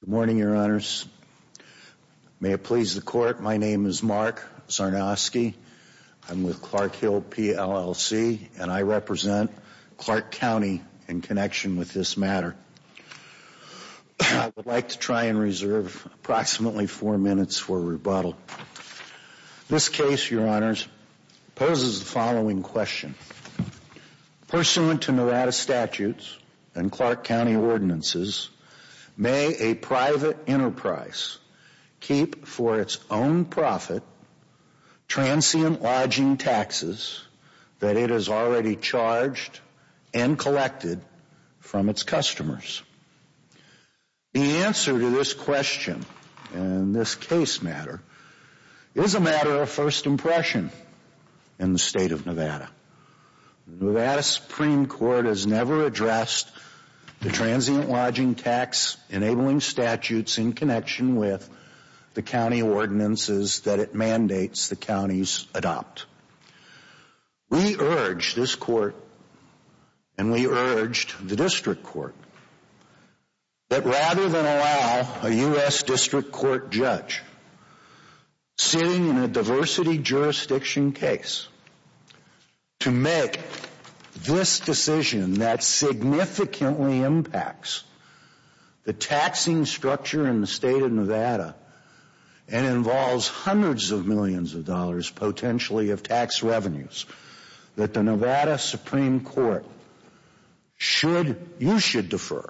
Good morning, Your Honors. May it please the Court, my name is Mark Zarnowski. I'm with Clark Hill, PLLC, and I represent Clark County in connection with this matter. I would like to try and reserve approximately four minutes for rebuttal. This case, Your Honors, poses the following question. Pursuant to Nevada statutes and Clark County ordinances, may a private enterprise keep for its own profit transient lodging taxes that it has already charged and collected from its customers? The answer to this question and this case matter is a matter of first impression in the State of Nevada. The Nevada Supreme Court has never addressed the transient lodging tax enabling statutes in connection with the county ordinances that it mandates the counties adopt. We urge this Court, and we urged the District Court, that rather than allow a U.S. District Court judge sitting in a diversity jurisdiction case to make this decision that significantly impacts the taxing structure in the State of Nevada and involves hundreds of millions of dollars potentially of tax revenues, that the Nevada Supreme Court should, you should defer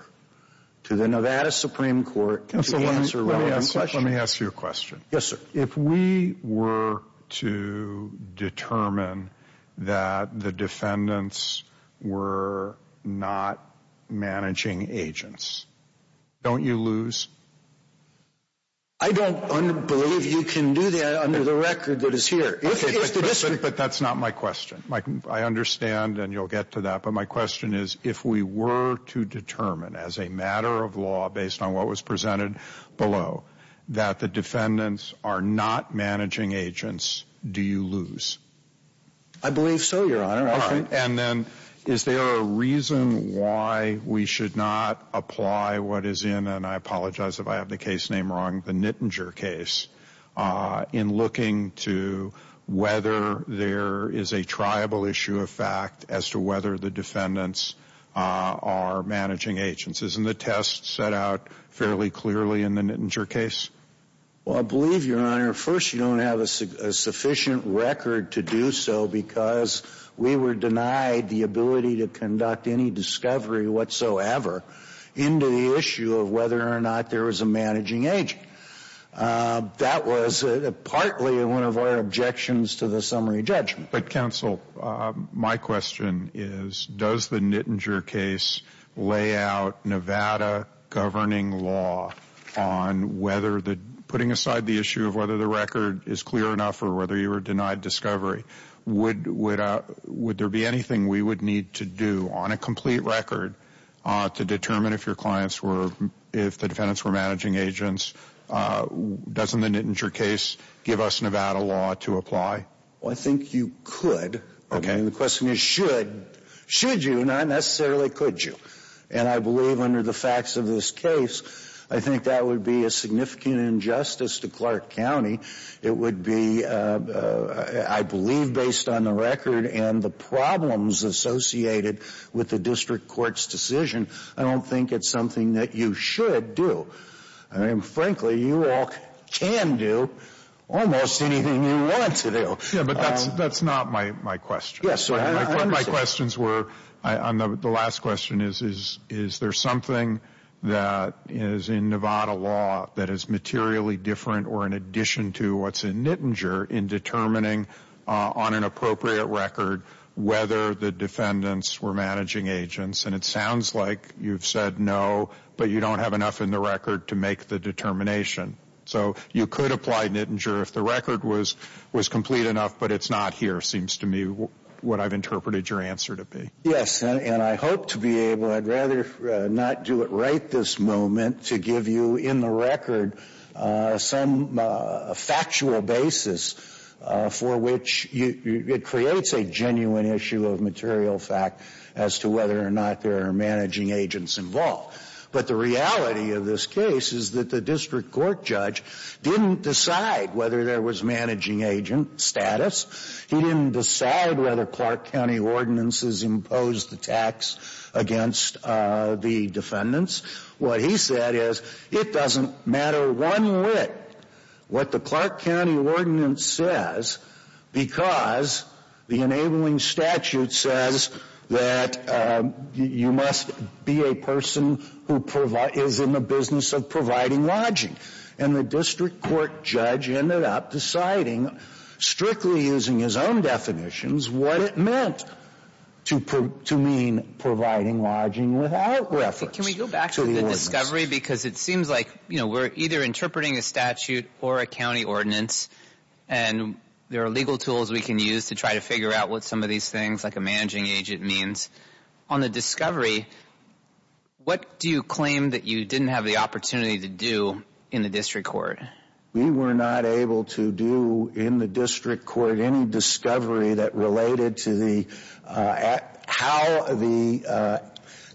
to the Nevada Supreme Court to answer relevant questions. Let me ask you a question. Yes, sir. If we were to determine that the defendants were not managing agents, don't you lose? I don't believe you can do that under the record that is here. Okay, but that's not my question. I understand and you'll get to that, but my question is, if we were to determine as a matter of law based on what was presented below that the defendants are not managing agents, do you lose? I believe so, Your Honor. All right. And then is there a reason why we should not apply what is in, and I apologize if I have the case name wrong, the Nittinger case in looking to whether there is a triable issue of fact as to whether the defendants are managing agents? Isn't the test set out fairly clearly in the Nittinger case? Well, I believe, Your Honor, first you don't have a sufficient record to do so because we were denied the ability to conduct any discovery whatsoever into the issue of whether or not there was a managing agent. That was partly one of our objections to the summary judgment. But counsel, my question is, does the Nittinger case lay out Nevada governing law on whether the, putting aside the issue of whether the record is clear enough or whether you were denied discovery, would there be anything we would need to do on a complete record to determine if your clients were, if the defendants were managing agents? Doesn't the Nittinger case give us Nevada law to apply? Well, I think you could. Okay. I mean, the question is should. Should you? Not necessarily could you. And I believe under the facts of this case, I think that would be a significant injustice to Clark County. It would be, I believe, based on the record and the problems associated with the district court's decision, I don't think it's something that you should do. I mean, frankly, you all can do almost anything you want to do. Yeah, but that's not my question. Yes, sir. My questions were, on the last question, is there something that is in Nevada law that is materially different or in addition to what's in Nittinger in determining on an appropriate record whether the defendants were managing agents? And it sounds like you've said no, but you don't have enough in the record to make the determination. So you could apply Nittinger if the record was complete enough, but it's not here, seems to me what I've interpreted your answer to be. Yes, and I hope to be able, I'd rather not do it right this moment, to give you in the record some factual basis for which it creates a genuine issue of material fact as to whether or not there are managing agents involved. But the reality of this case is that the district court judge didn't decide whether there was managing agent status. He didn't decide whether Clark County ordinances imposed the tax against the defendants. What he said is, it doesn't matter one whit what the Clark County ordinance says because the enabling statute says that you must be a person who is in the business of providing lodging. And the district court judge ended up deciding, strictly using his own definitions, what it meant to mean providing lodging without reference. Can we go back to the discovery because it seems like, you know, we're either interpreting a statute or a county ordinance and there are legal tools we can use to try to figure out what some of these things like a managing agent means. On the discovery, what do you claim that you didn't have the opportunity to do in the district court? We were not able to do in the district court any discovery that related to the how the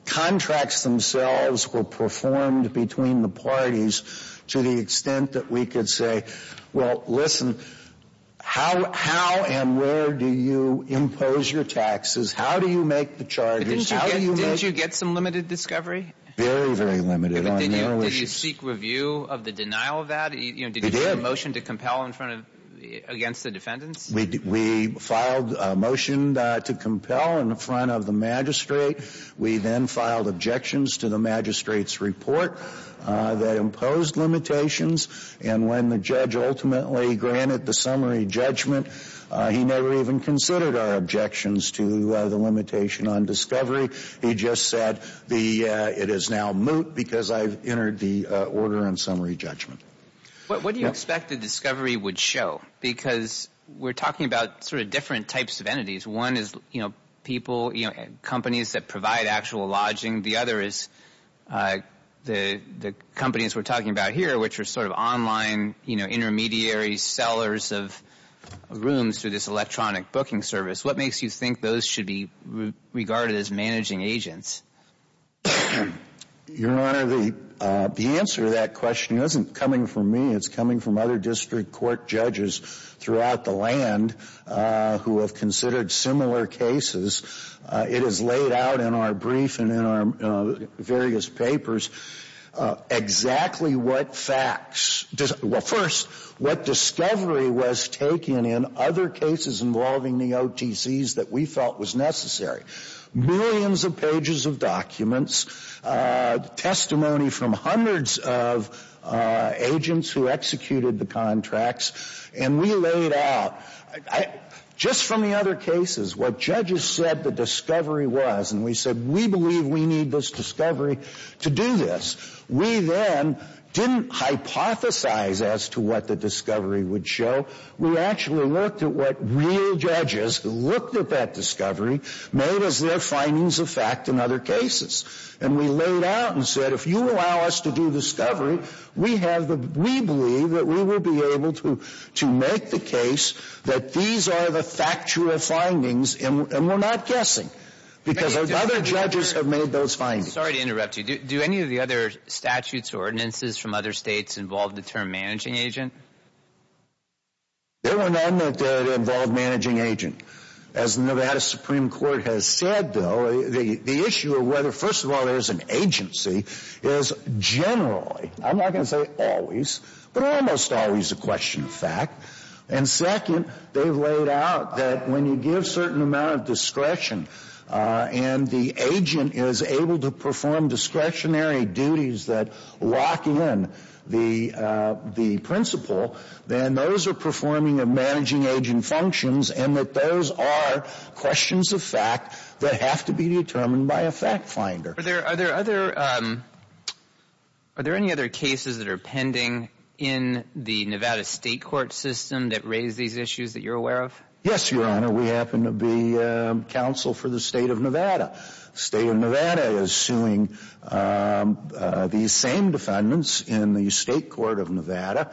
contracts themselves were performed between the parties to the extent that we could say, well, listen, how and where do you impose your taxes? How do you make the charges? Didn't you get some limited discovery? Very, very limited. Did you seek review of the denial of that? Did you make a motion to compel against the defendants? We filed a motion to compel in front of the magistrate. We then filed objections to the magistrate's report that imposed limitations. And when the judge ultimately granted the summary judgment, he never even considered our objections to the limitation on discovery. He just said the it is now moot because I've entered the order and summary judgment. What do you expect the discovery would show? Because we're talking about sort of different types of entities. One is, you know, people, companies that provide actual lodging. The other is the companies we're talking about here, which are sort of online, you know, intermediary sellers of rooms through this electronic booking service. What makes you think those should be regarded as managing agents? Your Honor, the answer to that question isn't coming from me. It's coming from other district court judges throughout the land who have considered similar cases. It is laid out in our brief and in our various papers exactly what facts — well, first, what discovery was taken in other cases involving the OTCs that we felt was necessary. Millions of pages of documents, testimony from hundreds of agents who executed the contracts. And we laid out, just from the other cases, what judges said the discovery was. And we said we believe we need this discovery to do this. We then didn't hypothesize as to what the discovery would show. We actually looked at what real judges who looked at that discovery made as their findings of fact in cases. And we laid out and said, if you allow us to do discovery, we have the — we believe that we will be able to make the case that these are the factual findings, and we're not guessing. Because other judges have made those findings. Sorry to interrupt you. Do any of the other statutes or ordinances from other states involve the term managing agent? There were none that involved managing agent. As Nevada Supreme Court has said, though, the issue of whether, first of all, there is an agency is generally — I'm not going to say always, but almost always a question of fact. And second, they've laid out that when you give certain amount of discretion and the agent is able to perform discretionary duties that lock in the principle, then those are performing a managing agent functions, and that those are questions of fact that have to be determined by a fact finder. Are there other — are there any other cases that are pending in the Nevada state court system that raise these issues that you're aware of? Yes, Your Honor. We happen to be counsel for the state of Nevada. State of Nevada is suing these same defendants in the state court of Nevada.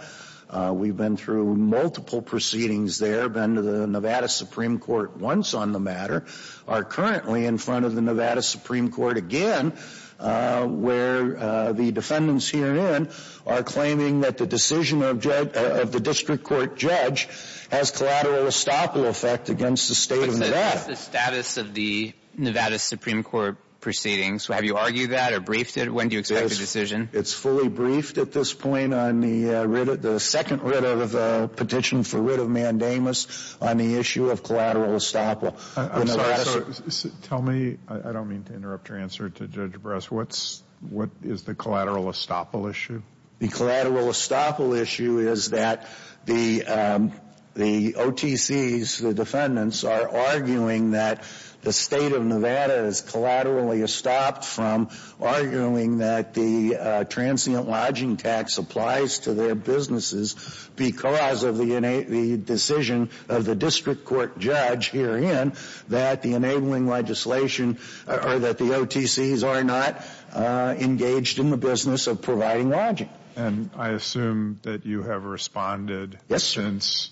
We've been through multiple proceedings there, been to the Nevada Supreme Court once on the matter, are currently in front of the Nevada Supreme Court again, where the defendants herein are claiming that the decision of the district court judge has collateral estoppel effect against the state of Nevada. What's the status of the Nevada Supreme Court proceedings? Have you argued that or briefed it? When do you expect the decision? It's fully briefed at this point on the second writ of the petition for writ of mandamus on the issue of collateral estoppel. I'm sorry. Tell me — I don't mean to interrupt your answer to Judge Bress. What's — what is the collateral estoppel issue? The collateral estoppel issue is that the OTCs, the defendants, are arguing that the state of Nevada is collaterally estopped from arguing that the transient lodging tax applies to their businesses because of the decision of the district court judge herein that the enabling legislation or that the OTCs are not engaged in the business of providing lodging. And I assume that you have responded since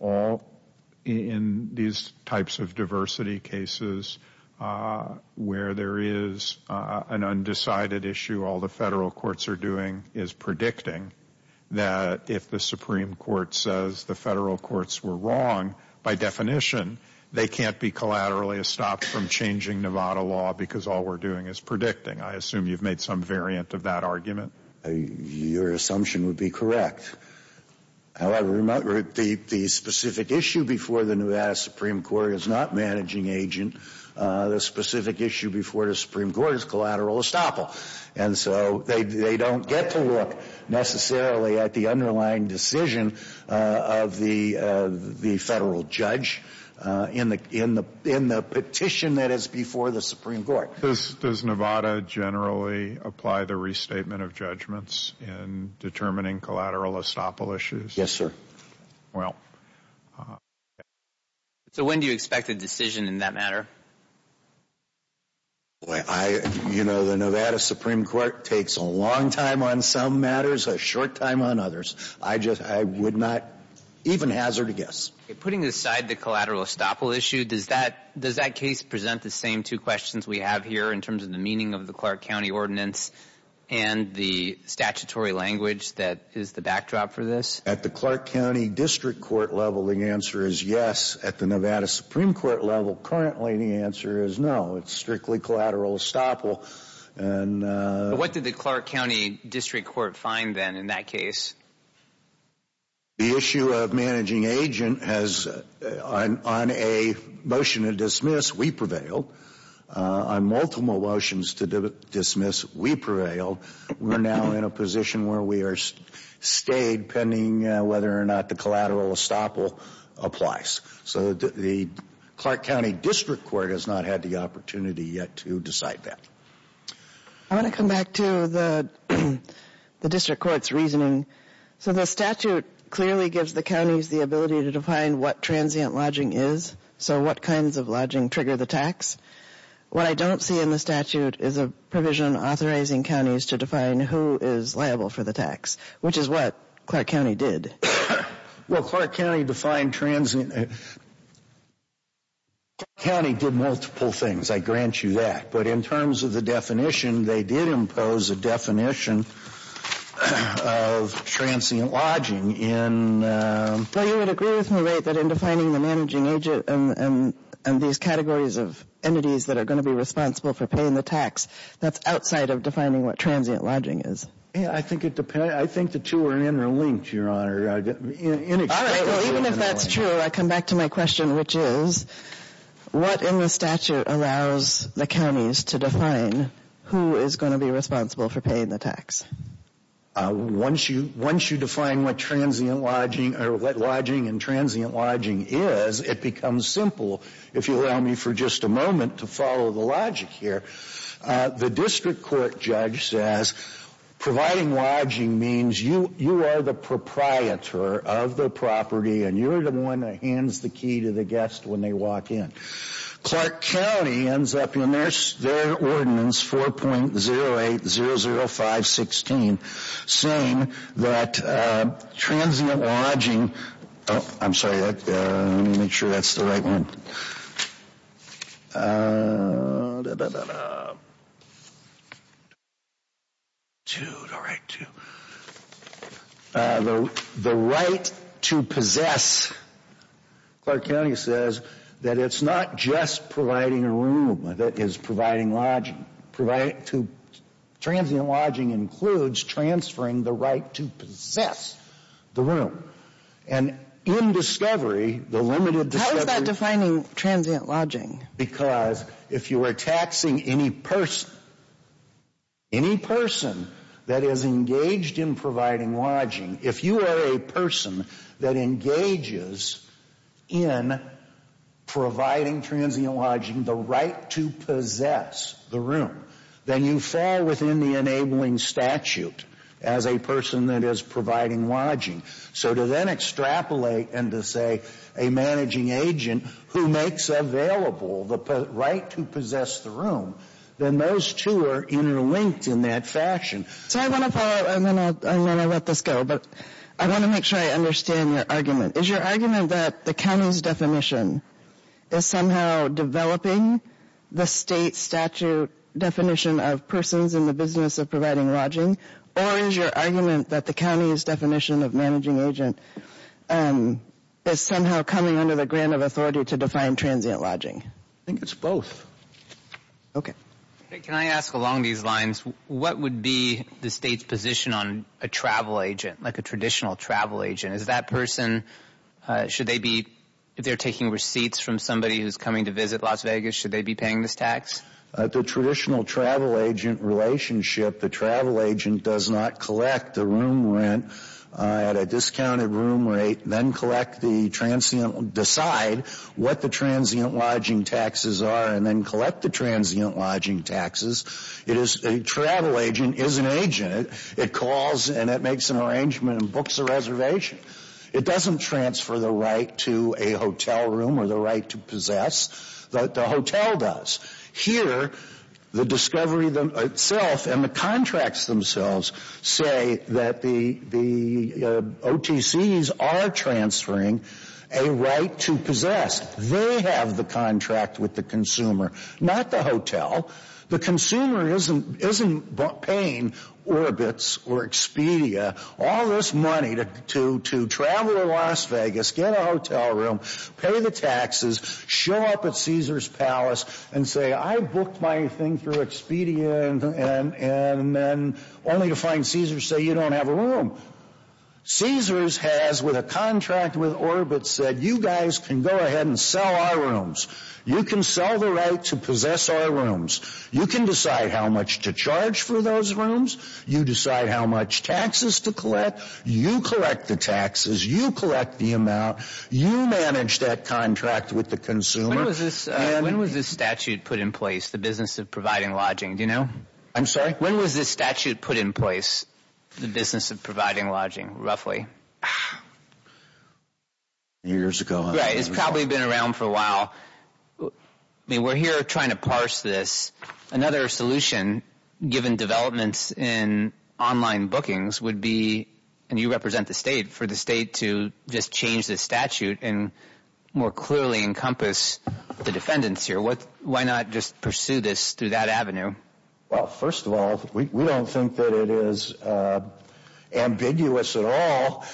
all — in these types of diversity cases where there is an undecided issue, all the federal courts are doing is predicting that if the Supreme Court says the federal courts were wrong, by definition, they can't be collaterally estopped from changing Nevada law because all we're doing is predicting. I assume you've made some variant of that argument. Your assumption would be correct. However, the specific issue before the Nevada Supreme Court is not managing agent. The specific issue before the Supreme Court is collateral estoppel. And so they don't get to look necessarily at the underlying decision of the federal judge in the petition that is before the Supreme Court. Does Nevada generally apply the restatement of judgments in determining collateral estoppel issues? Yes, sir. When do you expect a decision in that matter? You know, the Nevada Supreme Court takes a long time on some matters, a short time on others. I just — I would not even hazard a guess. Putting aside the collateral estoppel issue, does that case present the same two questions we have here in terms of the meaning of the Clark County ordinance and the statutory language that is the backdrop for this? At the Clark County District Court level, the answer is yes. At the Nevada Supreme Court level, currently, the answer is no. It's strictly collateral estoppel. What did the Clark County District Court find, then, in that case? The issue of managing agent has — on a motion to dismiss, we prevailed. On multiple motions to dismiss, we prevailed. We're now in a position where we are stayed pending whether or not the collateral estoppel applies. So the Clark County District Court has not had the opportunity yet to decide that. I want to come back to the District Court's reasoning. So the statute clearly gives the counties the ability to define what transient lodging is, so what kinds of lodging trigger the tax. What I don't see in the statute is a provision authorizing counties to define who is liable for the tax, which is what Clark County did. Well, Clark County defined transient — Clark County did multiple things, I grant you that. But in terms of the definition, they did impose a definition of transient lodging in — Well, you would agree with me, right, that in defining the managing agent and these categories of entities that are going to be responsible for paying the tax, that's outside of defining what transient lodging is. I think it depends — I think the two are interlinked, Your Honor. All right. Well, even if that's true, I come back to my question, which is, what in the statute allows the counties to define who is going to be responsible for paying the tax? Once you define what transient lodging — or what lodging and transient lodging is, it becomes simple, if you allow me for just a moment to follow the logic here. The District Court judge says providing lodging means you are the proprietor of the property and you're the one that hands the key to the guest when they walk in. Clark County ends up in their ordinance, 4.0800516, saying that transient lodging — oh, I'm sorry, let me make sure that's the right one. The right to possess. Clark County says that it's not just providing a room that is providing lodging. Transient lodging includes transferring the right to possess the room. And in discovery, the limited discovery — How is that defining transient lodging? Because if you are taxing any person, any person that is engaged in providing lodging, if you are a person that engages in providing transient lodging, the right to possess the room, then you fall within the enabling statute as a person that is providing lodging. So then extrapolate and to say a managing agent who makes available the right to possess the room, then those two are interlinked in that fashion. So I want to follow, and then I'll let this go, but I want to make sure I understand your argument. Is your argument that the county's definition is somehow developing the state statute definition of persons in the business of providing lodging? Or is your argument that the county's definition of managing agent is somehow coming under the grant of authority to define transient lodging? I think it's both. Okay. Can I ask along these lines, what would be the state's position on a travel agent, like a traditional travel agent? Is that person — should they be — if they're taking receipts from somebody who's coming to visit Las Vegas, should they be paying this tax? The traditional travel agent relationship, the travel agent does not collect the room rent at a discounted room rate, then collect the transient — decide what the transient lodging taxes are and then collect the transient lodging taxes. It is — a travel agent is an agent. It calls and it makes an arrangement and books a reservation. It doesn't transfer the right to a hotel room or the right to possess. The hotel does. Here, the discovery itself and the contracts themselves say that the OTCs are transferring a right to possess. They have the contract with the consumer, not the hotel. The consumer isn't paying Orbitz or Expedia all this money to travel to Las Vegas, get a hotel room, pay the taxes, show up at Caesars Palace and say, I booked my thing through Expedia and then — only to find Caesars say, you don't have a room. Caesars has, with a contract with Orbitz, said, you guys can go ahead and sell our rooms. You can sell the right to possess our rooms. You can decide how much to charge for those rooms. You decide how much taxes to collect. You collect the taxes. You collect the amount. You manage that contract with the consumer. When was this statute put in place, the business of providing lodging? Do you know? I'm sorry? When was this statute put in place, the business of providing lodging, roughly? Years ago. Right. It's probably been around for a while. I mean, we're here trying to parse this. Another solution, given developments in online bookings, would be — and you represent the state — for the state to just change this statute and more clearly encompass the defendants here. Why not just pursue this through that avenue? Well, first of all, we don't think that it is ambiguous at all.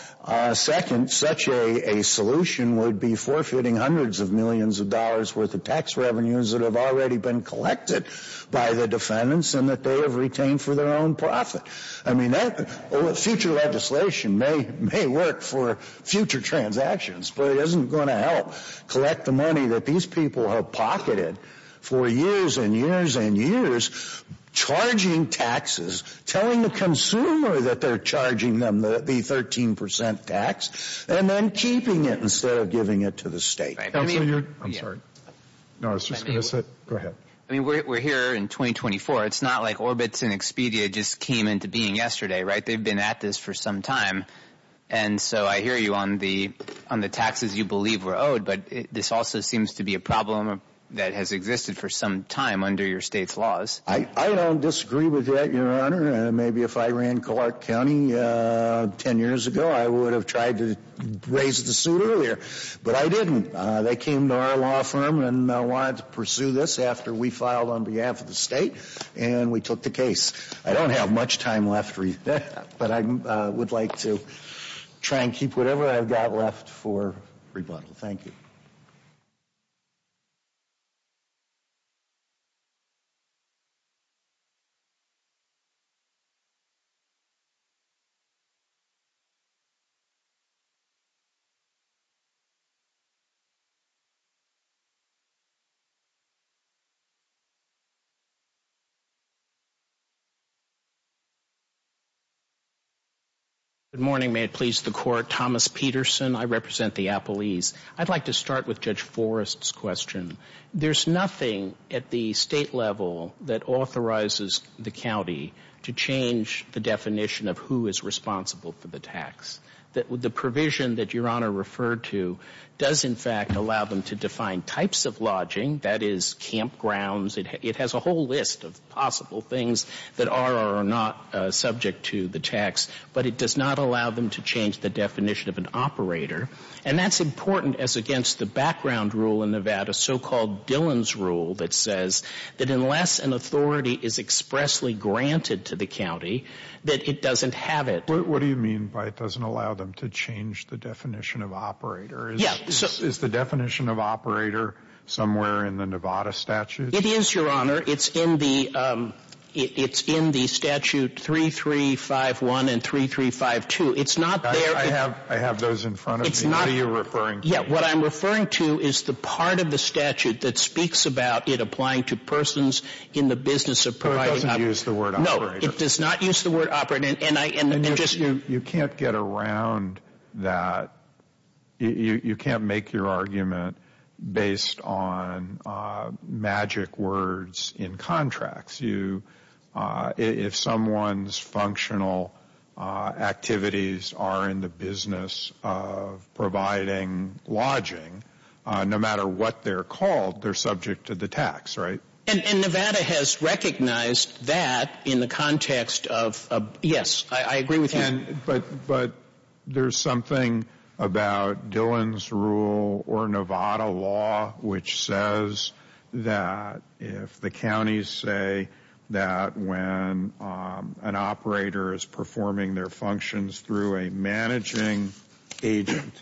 Second, such a solution would be forfeiting hundreds of millions of dollars' worth of tax revenues that have already been collected by the defendants and that they have retained for their own profit. I mean, future legislation may work for future transactions, but it isn't going to help collect the money that these people have pocketed for years and years and years, charging taxes, telling the consumer that they're charging them the 13 percent tax, and then keeping it instead of giving it to the state. I'm sorry. No, I was just going to say — go ahead. I mean, we're here in 2024. It's not like Orbitz and Expedia just came into being yesterday, right? They've been at this for some time. And so I hear you on the taxes you believe were owed, but this also seems to be a problem that has existed for some time under your state's laws. I don't disagree with that, Your Honor. Maybe if I ran Clark County 10 years ago, I would have tried to raise the suit earlier. But I didn't. They came to our law firm and wanted to pursue this after we filed on behalf of the state, and we took the case. I don't have much time left, but I would like to try and keep whatever I've got left for rebuttal. Thank you. Good morning. May it please the Court. Thomas Peterson. I represent the Appalese. I'd like to start with Judge Forrest's question. There's nothing at the state level that authorizes the county to change the definition of who is responsible for the tax. The provision that Your Honor referred to does, in fact, allow them to define types of lodging, that is, campgrounds. It has a whole list of possible things that are or are not subject to the tax, but it does not allow them to change the definition of an operator. And that's important as against the background rule in Nevada, so-called Dillon's Rule, that says that unless an authority is expressly granted to the county, that it doesn't have it. What do you mean by it doesn't allow them to change the definition of operator? Is the definition of operator somewhere in the Nevada statute? It is, Your Honor. It's in the statute 3351 and 3352. It's not there. I have those in front of me. What are you referring to? What I'm referring to is the part of the statute that speaks about it applying to persons in the business of providing- It doesn't use the word operator. No, it does not use the word operator. You can't get around that. You can't make your argument based on magic words in contracts. If someone's functional activities are in the business of lodging, no matter what they're called, they're subject to the tax, right? And Nevada has recognized that in the context of- Yes, I agree with you. But there's something about Dillon's Rule or Nevada law which says that if the counties say that when an operator is performing their functions through a managing agent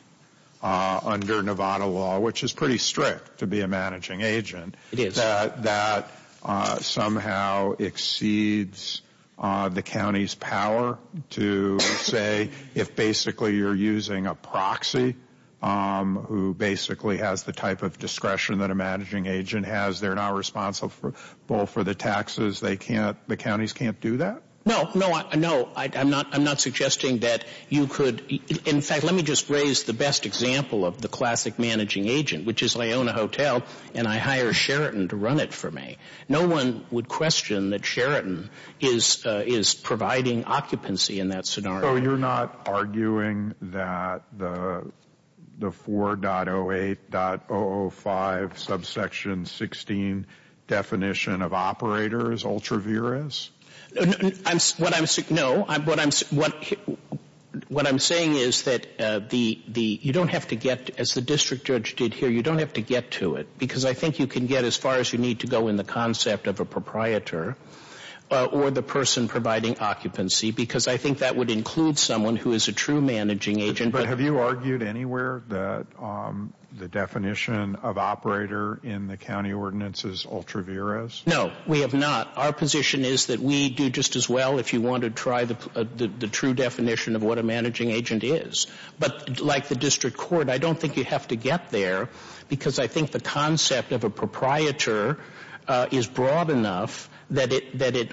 under Nevada law, which is pretty strict to be a managing agent, that somehow exceeds the county's power to say if basically you're using a proxy who basically has the type of discretion that a managing agent has. They're not responsible for the taxes. The counties can't do that? No, no. I'm not suggesting that you could- In fact, let me just raise the best example of the classic managing agent, which is I own a hotel and I hire Sheraton to run it for me. No one would question that Sheraton is providing occupancy in that scenario. You're not arguing that the 4.08.005 subsection 16 definition of operator is ultravirous? No. What I'm saying is that you don't have to get, as the district judge did here, you don't have to get to it because I think you can get as far as you need to go in the of a proprietor or the person providing occupancy because I think that would include someone who is a true managing agent. But have you argued anywhere that the definition of operator in the county ordinance is ultravirous? No, we have not. Our position is that we do just as well if you want to try the true definition of what a managing agent is. But like the district court, I don't think you have to get there because I think the concept of a proprietor is broad enough that it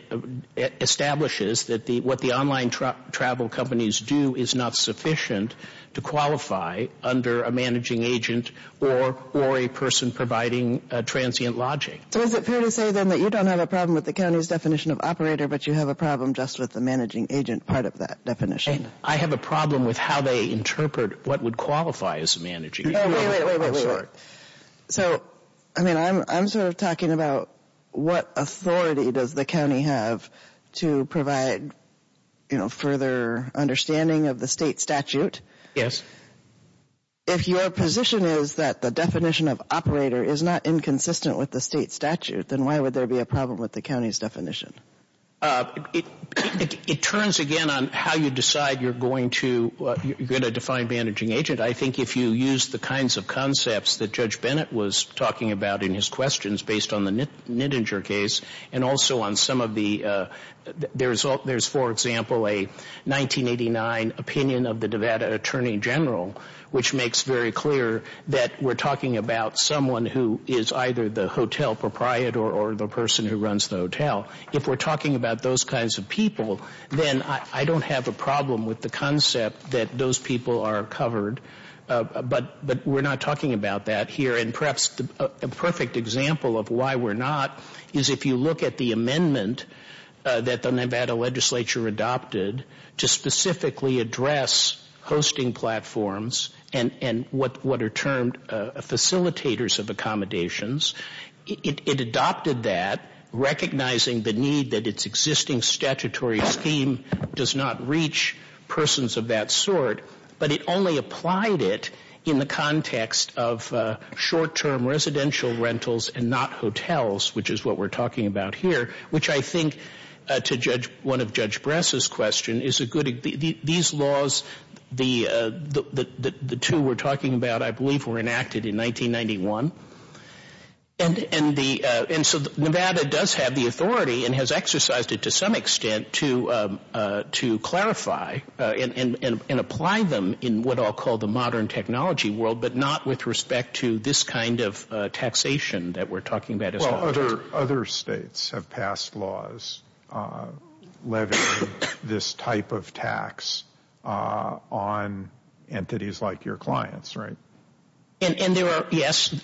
establishes that what the online travel companies do is not sufficient to qualify under a managing agent or a person providing transient lodging. So is it fair to say then that you don't have a problem with the county's definition of operator but you have a problem just with the managing agent part of that definition? I have a problem with how they interpret what would qualify as a managing agent. So I'm sort of talking about what authority does the county have to provide further understanding of the state statute? Yes. If your position is that the definition of operator is not inconsistent with the state statute, then why would there be a problem with the county's definition? It turns again on how you decide you're going to define managing agent. I think if you use the kinds of concepts that Judge Bennett was talking about in his questions based on the Nittinger case and also on some of the, there's for example a 1989 opinion of the Nevada Attorney General which makes very clear that we're talking about someone who is either the hotel proprietor or the person who runs the hotel. If we're talking about those kinds of people, then I don't have a problem with the concept that those people are covered. But we're not talking about that here. And perhaps a perfect example of why we're not is if you look at the amendment that the Nevada legislature adopted to specifically address hosting platforms and what are termed facilitators of accommodations. It adopted that recognizing the need that its existing statutory scheme does not reach persons of that sort. But it only applied it in the context of short-term residential rentals and not hotels, which is what we're talking about here. Which I think to judge, one of Judge Bress's questions, is a good, these laws, the two we're talking about I believe were enacted in 1991. And so Nevada does have the authority and has exercised it to some extent to clarify and apply them in what I'll call the modern technology world, but not with respect to this kind of taxation that we're talking about. Well, other states have passed laws levying this type of tax on entities like your clients, right? And there are, yes,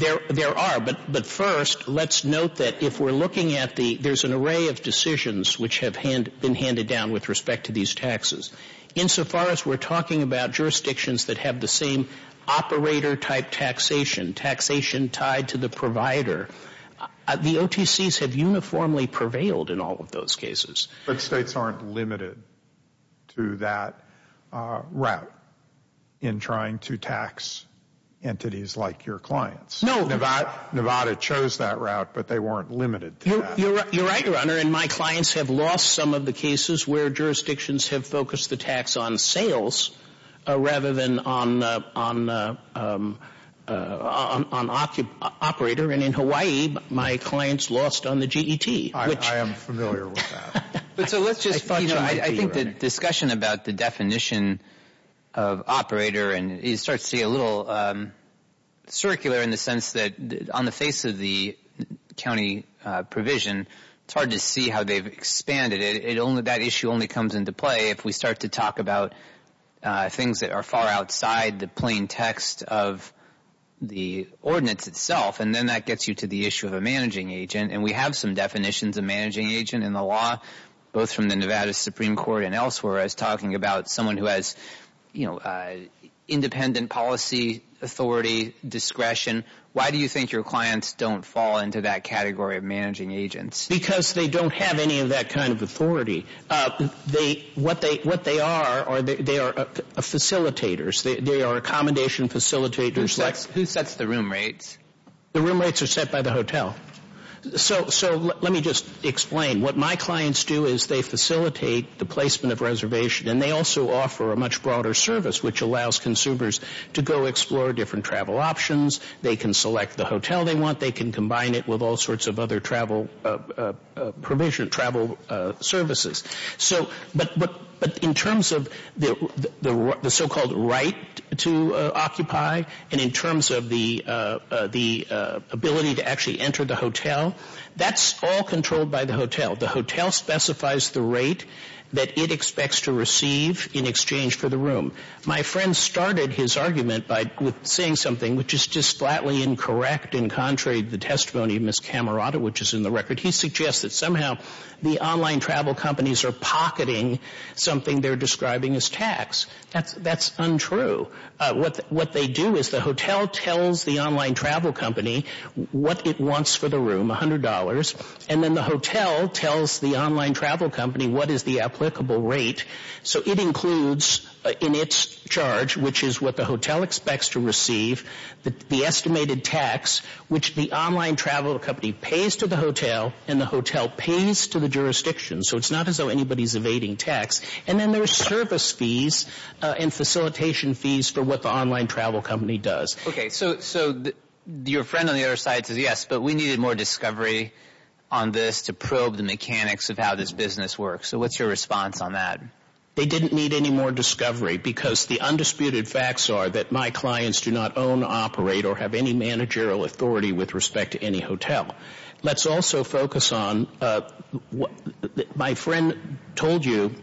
there are. But first, let's note that if we're looking at the, there's an array of decisions which have been handed down with respect to these taxes. Insofar as we're talking about jurisdictions that have the same operator type taxation, taxation tied to the provider, the OTCs have uniformly prevailed in all of those cases. But states aren't limited to that route in trying to tax entities like your clients. Nevada chose that route, but they weren't limited to that. You're right, Your Honor. And my clients have lost some of the cases where jurisdictions have focused the tax on sales rather than on operator. And in Hawaii, my clients lost on the G.E.T. I am familiar with that. I think the discussion about the definition of operator, and it starts to get a little circular in the sense that on the face of the county provision, it's hard to see how they've expanded it. That issue only comes into play if we start to talk about things that are far outside the plain text of the ordinance itself. And then that gets you to the issue of a managing agent. And we have some definitions of managing agent in the law, both from the Nevada Supreme Court and elsewhere. I was talking about someone who has independent policy authority, discretion. Why do you think your clients don't fall into that category of managing agents? Because they don't have any of that kind of authority. What they are, they are facilitators. They are accommodation facilitators. Who sets the room rates? The room rates are set by the hotel. So let me just explain. What my clients do is they facilitate the placement of reservation, and they also offer a much broader service which allows consumers to go explore different travel options. They can select the hotel they want. They can combine it with all sorts of other travel provision, travel services. So but in terms of the so-called right to occupy, and in terms of the ability to actually enter the hotel, that's all controlled by the hotel. The hotel specifies the rate that it expects to receive in exchange for the room. My friend started his argument by saying something which is just flatly incorrect and contrary to the testimony of Ms. Camerota, which is in the record. He suggests that somehow the online travel companies are pocketing something they're describing as tax. That's untrue. What they do is the hotel tells the online travel company what it wants for the room, $100, and then the hotel tells the online travel company what is the applicable rate. So it includes in its charge, which is what the hotel expects to receive, the estimated tax, which the online travel company pays to the hotel, and the hotel pays to the jurisdiction. So it's not as though anybody's evading tax. And then there's service fees and facilitation fees for what the online travel company does. Okay. So your friend on the other side says, yes, but we needed more discovery on this to probe the mechanics of how this business works. So what's your response on that? They didn't need any more discovery because the undisputed facts are that my clients do not own, operate, or have any managerial authority with respect to any hotel. Let's also focus on what my friend told you,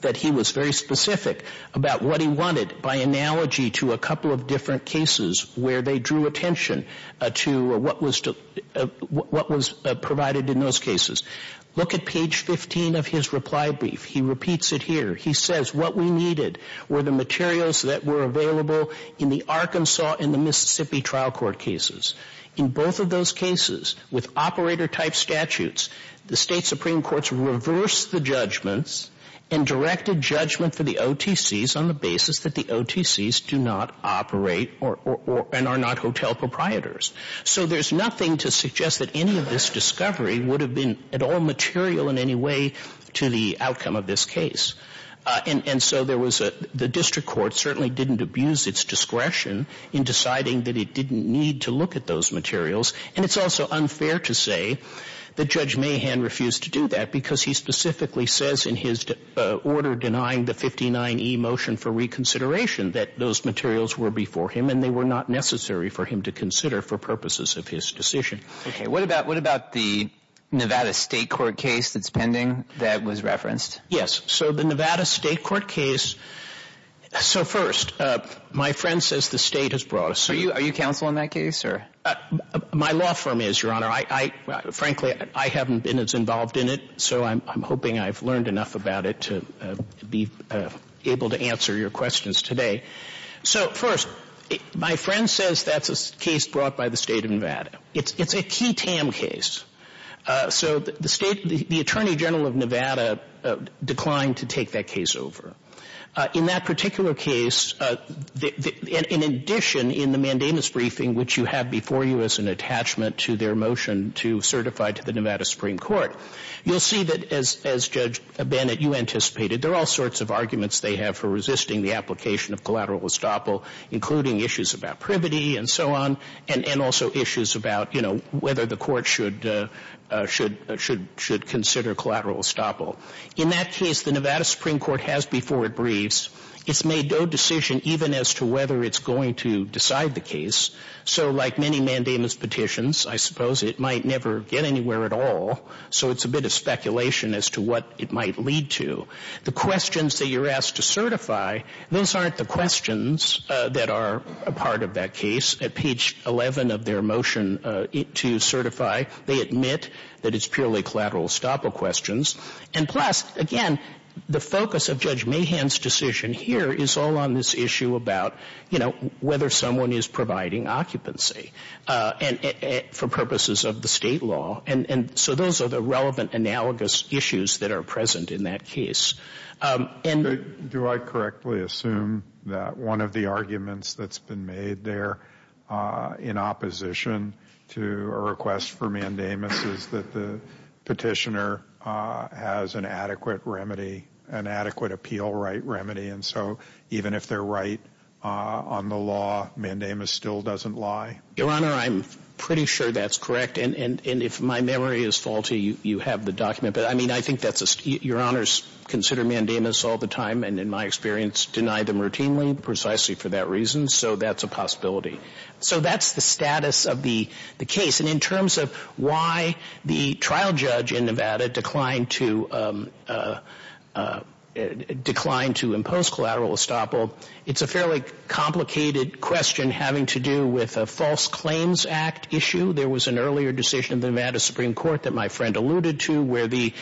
that he was very specific about what he wanted by analogy to a couple of different cases where they drew attention to what was provided in those cases. Look at page 15 of his reply brief. He repeats it here. He says, what we needed were the materials that were available in the Arkansas and the Mississippi trial court cases. In both of those cases, with operator-type statutes, the state supreme courts reversed the judgments and directed judgment for the OTCs on the basis that the OTCs do not operate and are not hotel proprietors. So there's nothing to suggest that any of this discovery would have been at all material in any way to the outcome of this case. And so the district court certainly didn't abuse its discretion in deciding that it didn't need to look at those materials. And it's also unfair to say that Judge Mahan refused to do that because he specifically says in his order denying the 59E motion for reconsideration that those materials were before him and they were not necessary for him to consider for purposes of his decision. Okay. What about the Nevada state court case that's pending that was referenced? Yes. So the Nevada state court case, so first, my friend says the state has brought us. Are you counsel in that case? My law firm is, Your Honor. Frankly, I haven't been as involved in it, so I'm hoping I've learned enough about it to be able to answer your questions today. So first, my friend says that's a case brought by the state of Nevada. It's a key TAM case. So the state, the Attorney General of Nevada declined to take that case over. In that particular case, in addition in the mandamus briefing, which you have before you as an attachment to their motion to certify to the Nevada Supreme Court, you'll see that as Judge Bennett, you anticipated, there are all sorts of arguments they have for resisting the application of collateral estoppel, including issues about and so on, and also issues about, you know, whether the court should consider collateral estoppel. In that case, the Nevada Supreme Court has before it briefs. It's made no decision even as to whether it's going to decide the case. So like many mandamus petitions, I suppose it might never get anywhere at all. So it's a bit of speculation as to what it might lead to. The questions that are asked to certify, those aren't the questions that are a part of that case. At page 11 of their motion to certify, they admit that it's purely collateral estoppel questions. And plus, again, the focus of Judge Mahan's decision here is all on this issue about, you know, whether someone is providing occupancy for purposes of the state law. And so those are the relevant analogous issues that are present in that case. Do I correctly assume that one of the arguments that's been made there in opposition to a request for mandamus is that the petitioner has an adequate remedy, an adequate appeal right remedy. And so even if they're right on the law, mandamus still doesn't lie? Your Honor, I'm pretty sure that's correct. And if my memory is faulty, you have the I mean, I think that's your Honor's consider mandamus all the time. And in my experience, deny them routinely precisely for that reason. So that's a possibility. So that's the status of the case. And in terms of why the trial judge in Nevada declined to declined to impose collateral estoppel, it's a fairly complicated question having to do with a false claims act issue. There was an earlier decision in the Nevada Supreme Court that my friend alluded to where the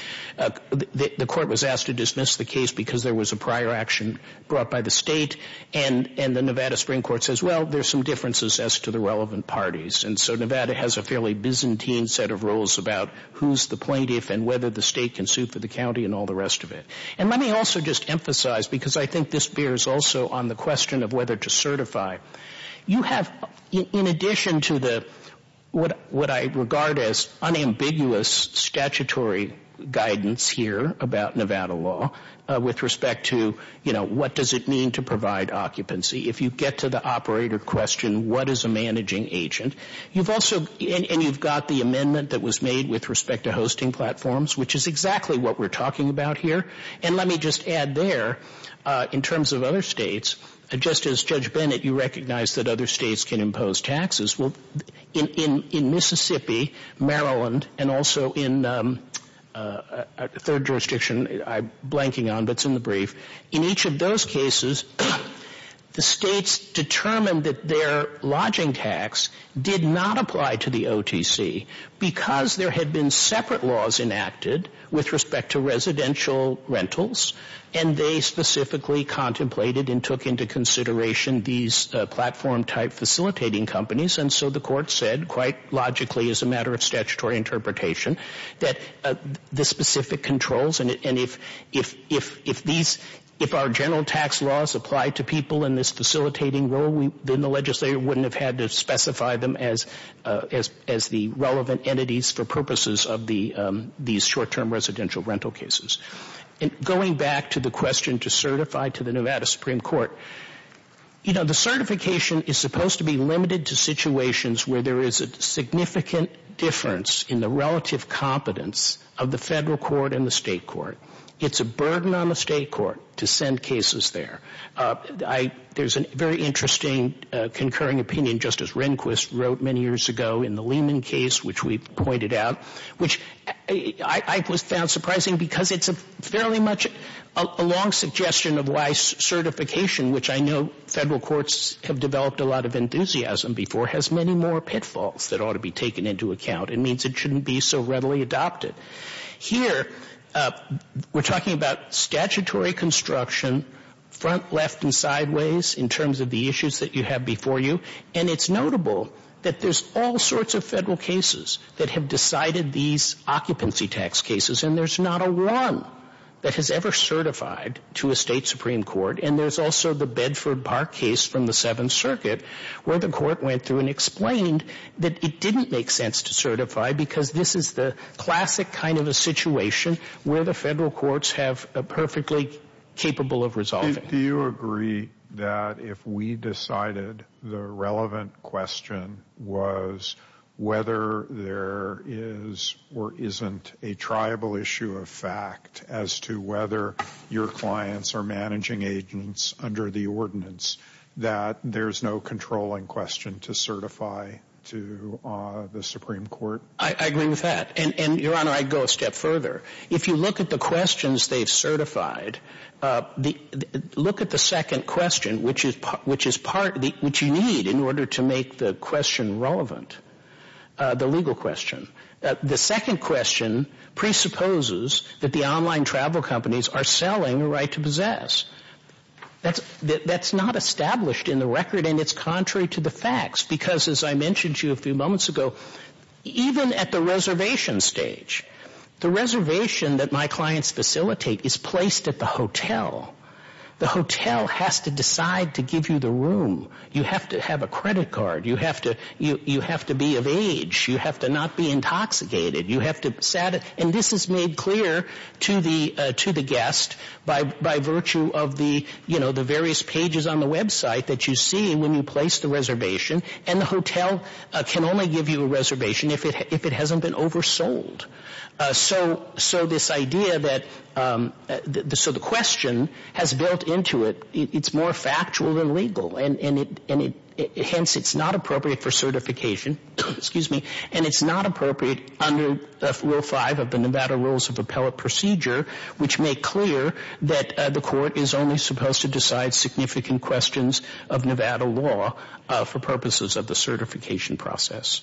court was asked to dismiss the case because there was a prior action brought by the state. And the Nevada Supreme Court says, well, there's some differences as to the relevant parties. And so Nevada has a fairly Byzantine set of rules about who's the plaintiff and whether the state can suit for the county and all the rest of it. And let me also just emphasize, because I think this also on the question of whether to certify, you have in addition to what I regard as unambiguous statutory guidance here about Nevada law with respect to what does it mean to provide occupancy? If you get to the operator question, what is a managing agent? And you've got the amendment that was made with respect to hosting platforms, which is exactly what we're talking about here. And let me just add there, in terms of other states, just as Judge Bennett, you recognize that other states can impose taxes. Well, in Mississippi, Maryland, and also in third jurisdiction, I'm blanking on, but it's in the brief. In each of those cases, the states determined that their lodging tax did not apply to the OTC because there had been separate laws enacted with respect to residential rentals. And they specifically contemplated and took into consideration these platform type facilitating companies. And so the court said, quite logically as a matter of statutory interpretation, that the specific controls, and if our general tax laws apply to people in this facilitating role, then the legislature wouldn't have had to specify them as the relevant entities for purposes of these short-term residential rental cases. And going back to the question to certify to the Nevada Supreme Court, you know, the certification is supposed to be limited to situations where there is a significant difference in the relative competence of the federal court and the state court. It's a burden on the state court to send many years ago in the Lehman case, which we pointed out, which I found surprising because it's fairly much a long suggestion of why certification, which I know federal courts have developed a lot of enthusiasm before, has many more pitfalls that ought to be taken into account. It means it shouldn't be so readily adopted. Here, we're talking about statutory construction, front, left, and sideways, in terms of the issues that you have before you. And it's notable that there's all sorts of federal cases that have decided these occupancy tax cases, and there's not a one that has ever certified to a state supreme court. And there's also the Bedford Park case from the Seventh Circuit, where the court went through and explained that it didn't make sense to certify because this is the classic kind of a situation where the question was whether there is or isn't a triable issue of fact as to whether your clients are managing agents under the ordinance, that there's no controlling question to certify to the Supreme Court. I agree with that. And Your Honor, I'd go a step further. If you look at the questions they've certified, look at the second question, which is part, which you need, in order to make the question relevant, the legal question. The second question presupposes that the online travel companies are selling a right to possess. That's not established in the record, and it's contrary to the facts. Because as I mentioned to you a few moments ago, even at the reservation stage, the reservation that my clients facilitate is placed at the hotel. The You have to be of age. You have to not be intoxicated. And this is made clear to the guest by virtue of the various pages on the website that you see when you place the reservation. And the hotel can only give you a reservation if it hasn't been oversold. So this idea that, so the question has built into it. It's more factual than legal, and hence it's not appropriate for certification, excuse me, and it's not appropriate under Rule 5 of the Nevada Rules of Appellate Procedure, which make clear that the court is only supposed to decide significant questions of Nevada law for purposes of the certification process.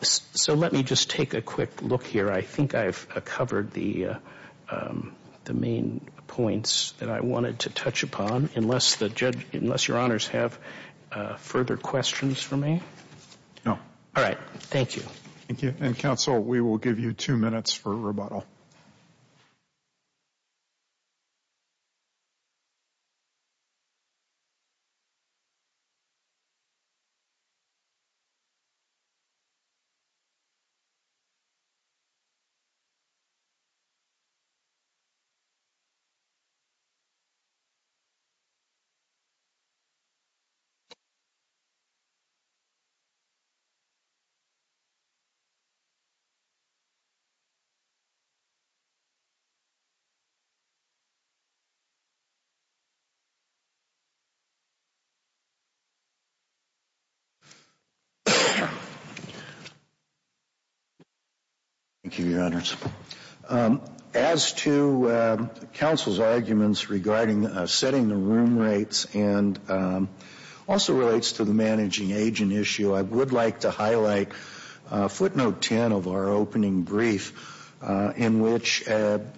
So let me just take a look here. I think I've covered the main points that I wanted to touch upon, unless the judge, unless your honors have further questions for me? No. All right. Thank you. Thank you. And counsel, we will give you two minutes for rebuttal. Thank you, your honors. As to counsel's arguments regarding setting the room rates, and also relates to the managing agent issue, I would like to highlight footnote 10 of our opening brief, in which the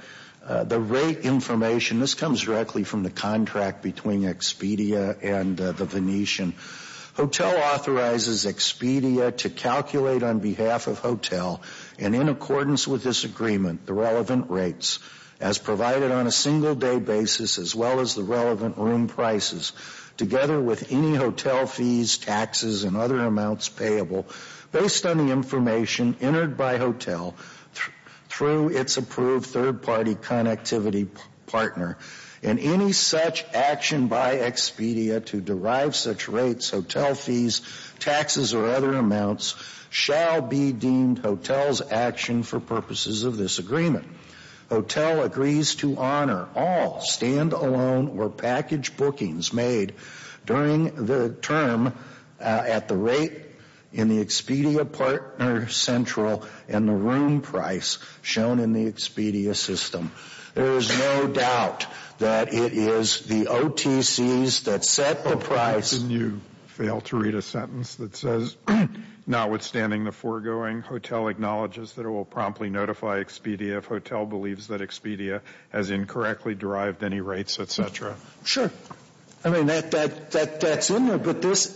rate information, this comes directly from the contract between Expedia and the Venetian. Hotel authorizes Expedia to calculate on behalf of hotel, and in accordance with this agreement, the relevant rates, as provided on a single day basis, as well as the relevant room prices, together with any hotel fees, taxes, and other amounts payable, based on the information entered by hotel, through its approved third party connectivity partner. And any such action by Expedia to derive such rates, hotel fees, taxes, or other amounts, shall be deemed hotel's action for purposes of this agreement. Hotel agrees to honor all stand alone or package bookings made during the term at the rate in the Expedia partner central, and the room price shown in the Expedia system. There is no doubt that it is the OTCs that set the price. Why couldn't you fail to read a sentence that says, notwithstanding the foregoing, hotel acknowledges that it will promptly notify Expedia if hotel believes that Expedia has incorrectly derived any rates, et cetera? Sure. I mean, that's in there, but this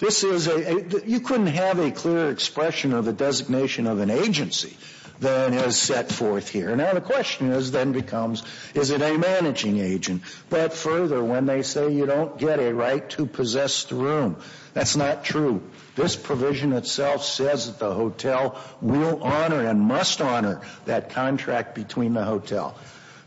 is a, you couldn't have a clear expression of an agency than is set forth here. Now, the question then becomes, is it a managing agent? But further, when they say you don't get a right to possess the room, that's not true. This provision itself says that the hotel will honor and must honor that contract between the hotel.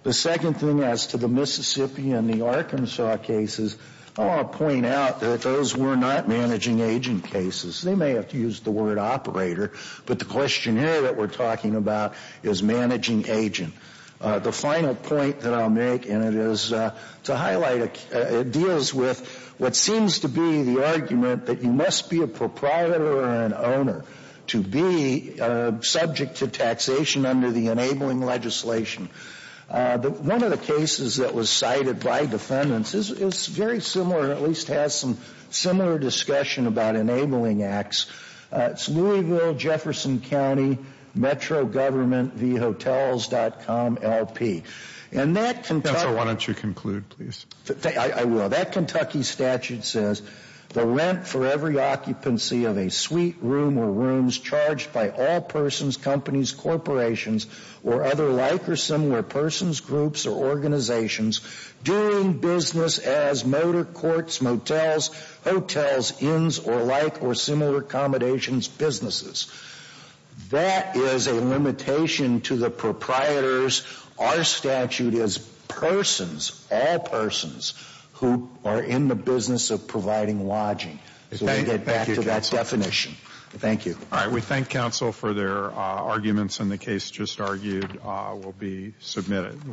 The second thing as to the Mississippi and the Arkansas cases, I want to point out that those were not managing agent cases. They may have used the word operator, but the questionnaire that we're talking about is managing agent. The final point that I'll make, and it is to highlight, it deals with what seems to be the argument that you must be a proprietor or an owner to be subject to taxation under the enabling legislation. One of the cases that was cited by defendants is very similar, at least has some similar discussion about enabling acts. It's Louisville, Jefferson County, Metro Government v. Hotels.com LP. And that Kentucky statute says the rent for every occupancy of a suite room or rooms or other like or similar persons, groups, or organizations doing business as motor courts, motels, hotels, inns, or like or similar accommodations, businesses. That is a limitation to the proprietors. Our statute is persons, all persons, who are in the business of providing lodging. So we get back to that definition. Thank you. All right. We thank counsel for their arguments and the case just argued will be submitted.